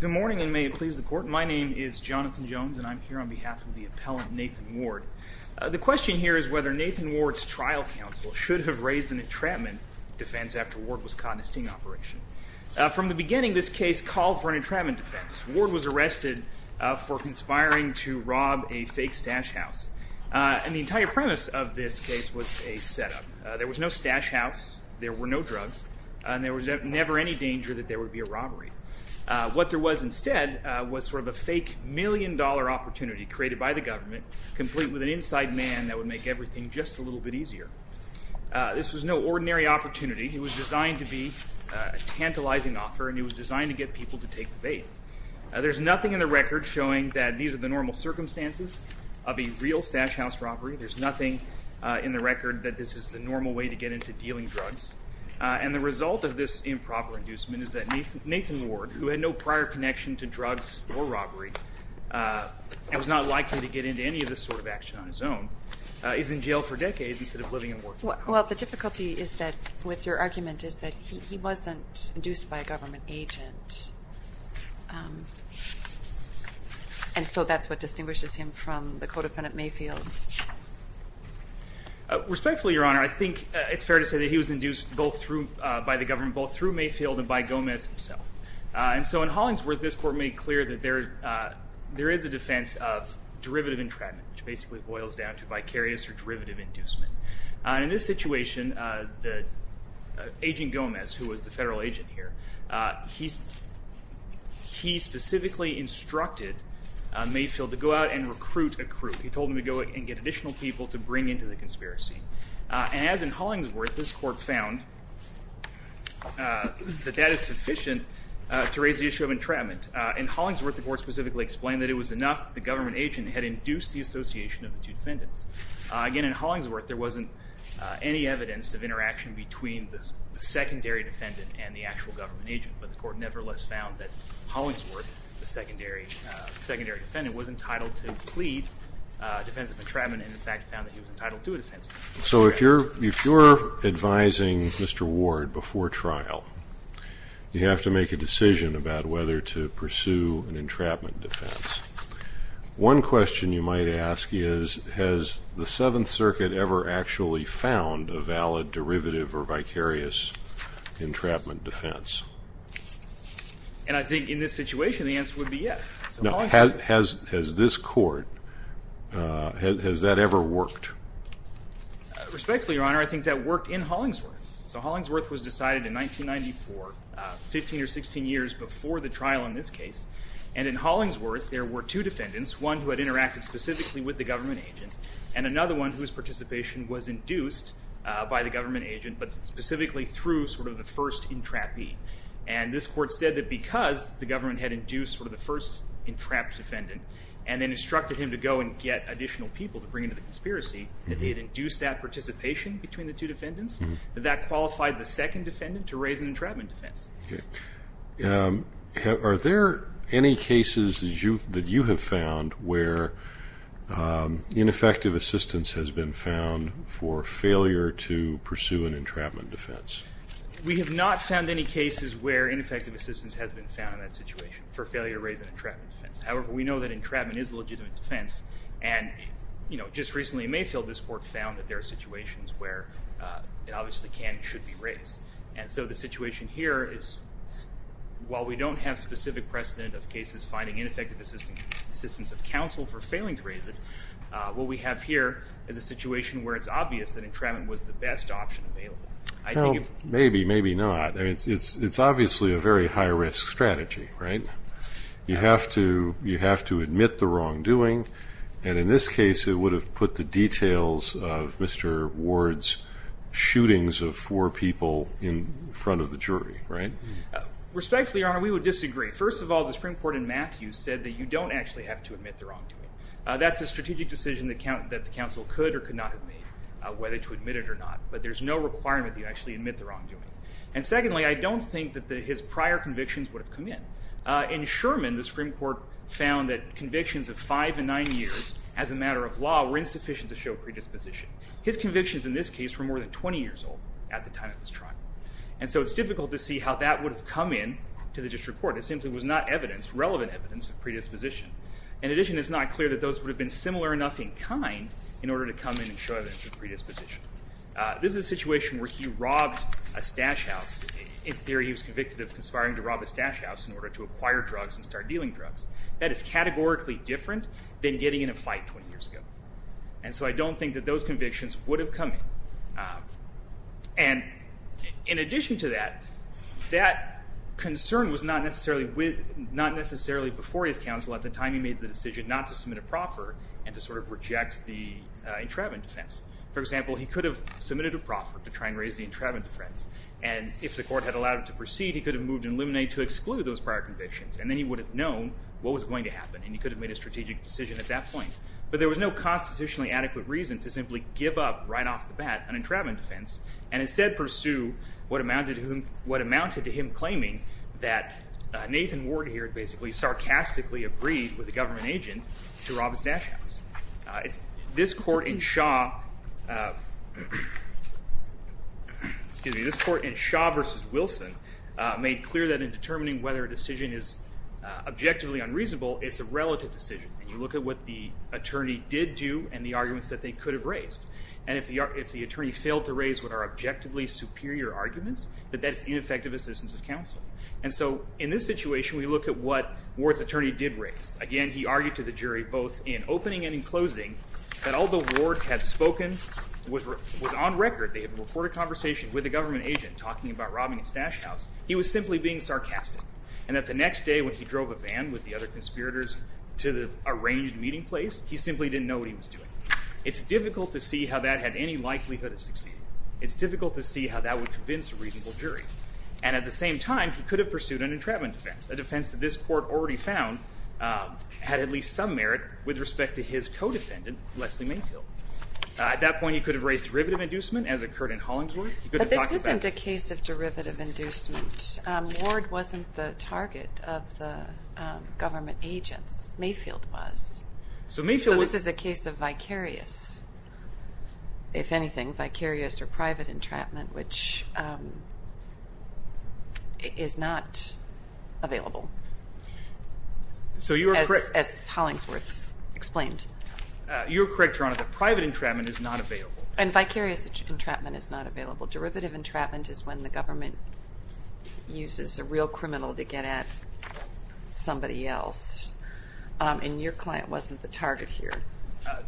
Good morning and may it please the court. My name is Jonathan Jones and I'm here on behalf of the appellant Nathan Ward. The question here is whether Nathan Ward's trial counsel should have raised an entrapment defense after Ward was caught in a sting operation. From the beginning this case called for an entrapment defense. Ward was arrested for conspiring to rob a fake stash house and the entire premise of this case was a setup. There was no stash house, there were no drugs, and there was never any danger that there would be a robbery. What there was instead was sort of a fake million-dollar opportunity created by the government complete with an inside man that would make everything just a little bit easier. This was no ordinary opportunity. It was designed to be a tantalizing offer and it was designed to get people to take the bait. There's nothing in the record showing that these are the normal circumstances of a real stash house robbery. There's nothing in the record that this is the normal way to get into dealing drugs. And the result of this improper inducement is that Nathan Ward, who had no prior connection to drugs or robbery, and was not likely to get into any of this sort of action on his own, is in jail for decades instead of living and working. Well the difficulty is that with your argument is that he wasn't induced by a government agent. And so that's what distinguishes him from the co-defendant Mayfield. Respectfully, Your Honor, I think it's fair to say that he was induced by the government both through Mayfield and by Gomez himself. And so in Hollingsworth, this court made clear that there is a defense of derivative entrapment, which basically boils down to vicarious or derivative inducement. In this situation, Agent Gomez, who was the federal agent here, he specifically instructed Mayfield to go out and recruit a crew. He told him to go and get additional people to bring into the conspiracy. And as in Hollingsworth, this court found that that is sufficient to raise the issue of entrapment. In Hollingsworth, the court specifically explained that it was enough the government agent had induced the association of the two defendants. Again, in Hollingsworth, there wasn't any evidence of interaction between the secondary defendant and the actual government agent. But the court nevertheless found that Hollingsworth, the secondary defendant, was entitled to plead defense of entrapment and in fact found that he was entitled to a defense. So if you're advising Mr. Ward before trial, you have to make a decision about whether to pursue an entrapment defense. One question you might ask is, has the Seventh Circuit ever actually found a valid derivative or vicarious entrapment defense? And I think in this situation, the answer would be yes. Has this court, has that ever worked? Respectfully, Your Honor, I think that worked in Hollingsworth. So Hollingsworth was decided in 1994, 15 or 16 years before the trial in this case. And in Hollingsworth, there were two defendants, one who had interacted specifically with the government agent and another one whose participation was induced by the government agent, but specifically through sort of the first entrapee. And this court said that because the government had induced sort of the first entrapped defendant and then instructed him to go and get additional people to bring into the conspiracy, that they had induced that participation between the two defendants, that that qualified the second defendant to raise an entrapment defense. Okay. Are there any cases that you have found where ineffective assistance has been found for failure to pursue an entrapment defense? We have not found any cases where ineffective assistance has been found in that situation for failure to raise an entrapment defense. However, we know that entrapment is a legitimate defense and, you know, just recently Mayfield, this court, found that there are situations where it obviously can and should be raised. And so the situation here is, while we don't have specific precedent of cases finding ineffective assistance of counsel for failing to raise it, what we have here is a situation where it's obvious that entrapment was the best option available. Maybe, maybe not. I mean, it's obviously a very high risk strategy, right? You have to admit the wrongdoing. And in this case, it would have put the details of Mr. Sherman in front of the jury, right? Respectfully, Your Honor, we would disagree. First of all, the Supreme Court in Matthews said that you don't actually have to admit the wrongdoing. That's a strategic decision that the counsel could or could not have made, whether to admit it or not. But there's no requirement that you actually admit the wrongdoing. And secondly, I don't think that his prior convictions would have come in. In Sherman, the Supreme Court found that convictions of five and nine years as a matter of law were insufficient to show And so it's difficult to see how that would have come in to the district court. It simply was not evidence, relevant evidence of predisposition. In addition, it's not clear that those would have been similar enough in kind in order to come in and show evidence of predisposition. This is a situation where he robbed a stash house. In theory, he was convicted of conspiring to rob a stash house in order to acquire drugs and start dealing drugs. That is categorically different than getting in a fight 20 years ago. And so I don't think that those convictions would have come in. And in addition to that, that concern was not necessarily before his counsel at the time he made the decision not to submit a proffer and to sort of reject the entrapment defense. For example, he could have submitted a proffer to try and raise the entrapment defense. And if the court had allowed it to proceed, he could have moved and eliminated to exclude those prior convictions. And then he would have known what was going to happen. And he could have made a strategic decision at that point. But there was no constitutionally adequate reason to simply give up right off the bat an entrapment defense and instead pursue what amounted to him claiming that Nathan Ward here basically sarcastically agreed with a government agent to rob his stash house. This court in Shaw versus Wilson made clear that in determining whether a decision is objectively unreasonable, it's a relative decision. And you look at what the attorney did do and the attorney failed to raise what are objectively superior arguments, that that's ineffective assistance of counsel. And so in this situation, we look at what Ward's attorney did raise. Again, he argued to the jury both in opening and in closing that although Ward had spoken, was on record, they had a recorded conversation with a government agent talking about robbing his stash house, he was simply being sarcastic. And that the next day when he drove a van with the other conspirators to the arranged meeting place, he simply didn't know what he was doing. It's difficult to see how that had any likelihood of succeeding. It's difficult to see how that would convince a reasonable jury. And at the same time, he could have pursued an entrapment defense, a defense that this court already found had at least some merit with respect to his co-defendant, Leslie Mayfield. At that point, he could have raised derivative inducement as occurred in Hollingsworth. But this isn't a case of derivative inducement. Ward wasn't the target of the agents. Mayfield was. So this is a case of vicarious, if anything, vicarious or private entrapment, which is not available, as Hollingsworth explained. You're correct, Your Honor, that private entrapment is not available. And vicarious entrapment is not available. Derivative entrapment is when the government uses a real criminal to get at somebody else. And your client wasn't the target here.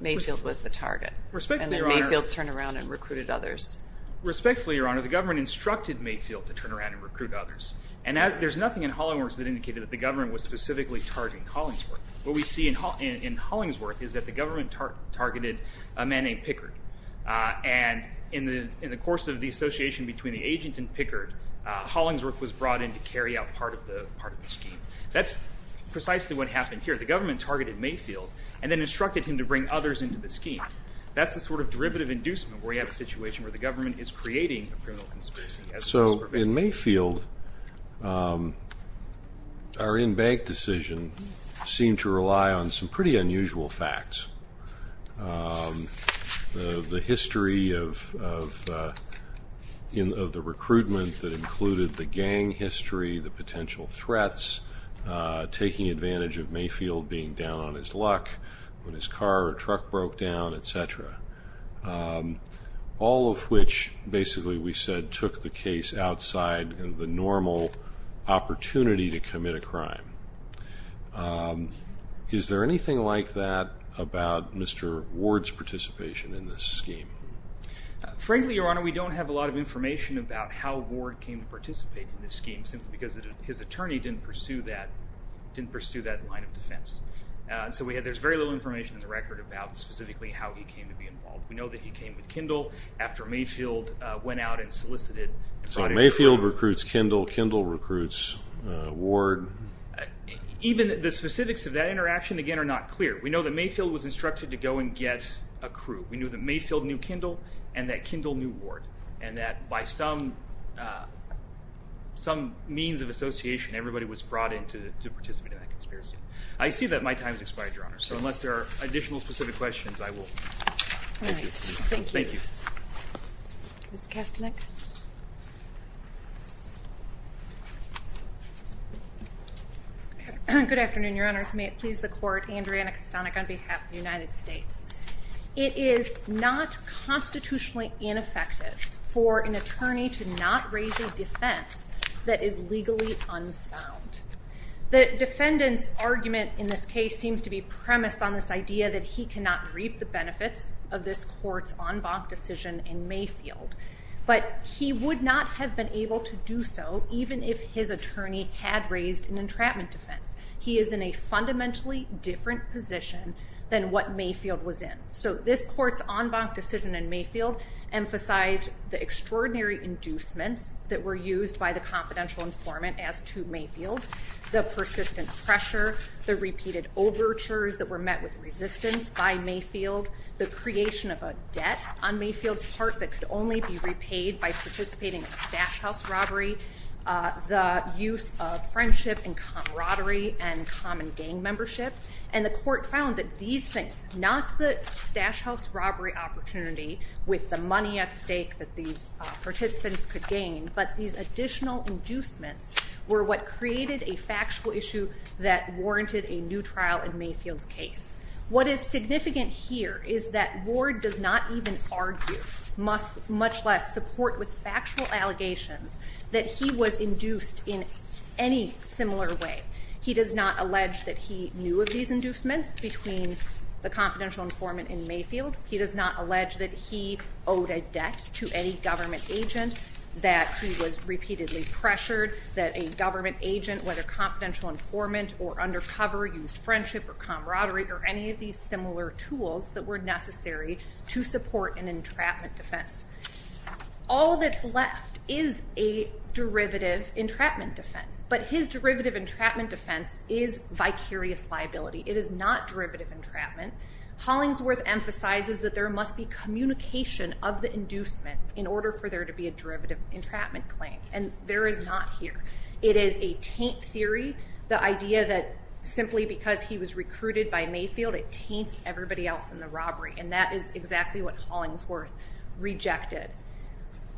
Mayfield was the target. And then Mayfield turned around and recruited others. Respectfully, Your Honor, the government instructed Mayfield to turn around and recruit others. And there's nothing in Hollingsworth that indicated that the government was specifically targeting Hollingsworth. What we see in Hollingsworth is that the government targeted a man named Pickard. And in the course of the association between the agent and Pickard, Hollingsworth was brought in to carry out part of the scheme. That's precisely what happened here. The government targeted Mayfield and then instructed him to bring others into the scheme. That's the sort of derivative inducement where you have a situation where the government is creating a criminal conspiracy. So in Mayfield, our in-bank decision seemed to rely on some pretty unusual facts. The history of the recruitment that included the gang history, the potential threats, taking advantage of Mayfield being down on his luck when his car or truck broke down, etc. All of which basically we said took the case outside the normal opportunity to commit a crime. Is there anything like that about Mr. Ward's participation in this scheme? Frankly, Your Honor, we don't have a lot of information about how Ward came to participate in this scheme simply because his attorney didn't pursue that line of defense. So there's very little information in the record about specifically how he came to be involved. We know that he came with Kindle after Mayfield went out and solicited. So Mayfield recruits Kindle, Kindle recruits Ward. Even the specifics of that interaction again are not clear. We know that Mayfield was instructed to go and get a crew. We know that Mayfield knew Kindle and that Kindle knew Ward and that by some means of association, everybody was brought in to participate in that conspiracy. I see that my time has expired, Your Honor, so unless there are additional specific questions, I will. All right, thank you. Thank you. Ms. Kastanek. Good afternoon, Your Honor. May it please the Court, Andrea Kastanek on behalf of the United States. It is not constitutionally ineffective for an attorney to not raise a defense that is legally unsound. The defendant's argument in this case seems to be premised on this idea that he cannot reap the benefits of this court's en banc decision in Mayfield, but he would not have been able to do so even if his attorney had raised an entrapment defense. He is in a fundamentally different position than what Mayfield was in. So this court's en banc decision in Mayfield emphasized the extraordinary inducements that were used by the confidential informant as to Mayfield, the persistent pressure, the repeated overtures that were met with resistance by Mayfield, the creation of a debt on Mayfield's part that could only be repaid by participating in a stash and common gang membership. And the court found that these things, not the stash house robbery opportunity with the money at stake that these participants could gain, but these additional inducements were what created a factual issue that warranted a new trial in Mayfield's case. What is significant here is that Ward does not even argue, much less support with factual allegations, that he was induced in any similar way. He does not allege that he knew of these inducements between the confidential informant and Mayfield. He does not allege that he owed a debt to any government agent, that he was repeatedly pressured, that a government agent, whether confidential informant or undercover, used friendship or camaraderie or any of these tools that were necessary to support an entrapment defense. All that's left is a derivative entrapment defense, but his derivative entrapment defense is vicarious liability. It is not derivative entrapment. Hollingsworth emphasizes that there must be communication of the inducement in order for there to be a derivative entrapment claim, and there is not here. It is a taint theory, the idea that simply because he was recruited by Mayfield, it taints everybody else in the robbery, and that is exactly what Hollingsworth rejected.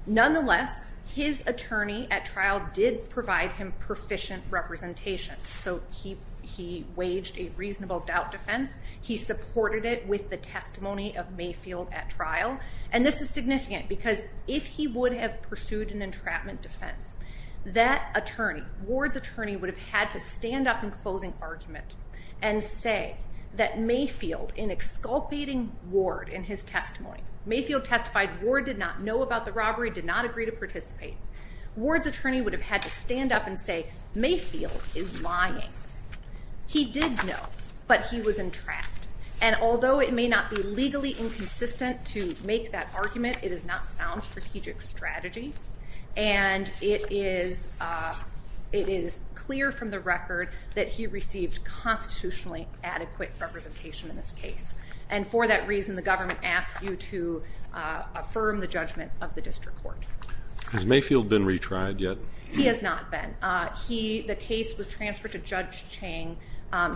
Nonetheless, his attorney at trial did provide him proficient representation, so he waged a reasonable doubt defense. He supported it with the testimony of Mayfield at trial, and this is significant because if he would have pursued an entrapment defense, that attorney, Ward's attorney, would have had to stand up in closing argument and say that Mayfield, in exculpating Ward in his testimony, Mayfield testified Ward did not know about the robbery, did not agree to participate. Ward's attorney would have had to stand up and say Mayfield is lying. He did know, but he was entrapped, and although it may not be legally inconsistent to make that argument, it is not sound strategic strategy, and it is clear from the record that he received constitutionally adequate representation in this case, and for that reason, the government asks you to affirm the judgment of the district court. Has Mayfield been retried yet? He has not been. The case was transferred to Judge Chang.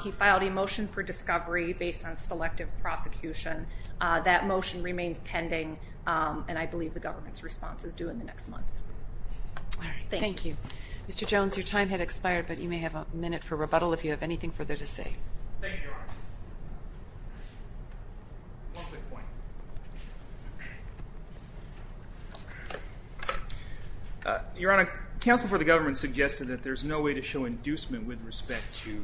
He filed a motion for discovery based on selective prosecution. That motion remains pending, and I believe the government's response is due in the next month. Thank you. Mr. Jones, your time had expired, but you may have a minute for rebuttal if you have anything further to say. Your Honor, counsel for the government suggested that there's no way to show respect to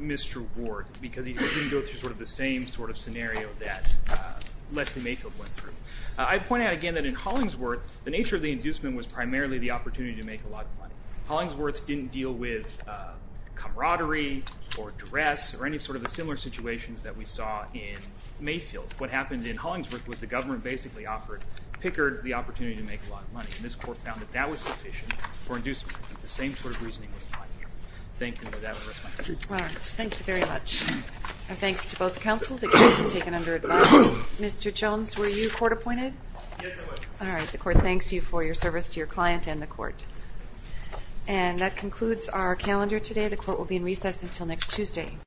Mr. Ward because he didn't go through sort of the same sort of scenario that Leslie Mayfield went through. I'd point out again that in Hollingsworth, the nature of the inducement was primarily the opportunity to make a lot of money. Hollingsworth didn't deal with camaraderie or dress or any sort of similar situations that we saw in Mayfield. What happened in Hollingsworth was the government basically offered Pickard the opportunity to make a lot of money, and this court found that that was sufficient for inducement. The same sort of reasoning was applied here. Thank you for that response. All right. Thank you very much. Our thanks to both counsel. The case is taken under advise. Mr. Jones, were you court appointed? Yes, I was. All right. The court thanks you for your service to your client and the court. And that concludes our calendar today. The court will be in recess until next Tuesday.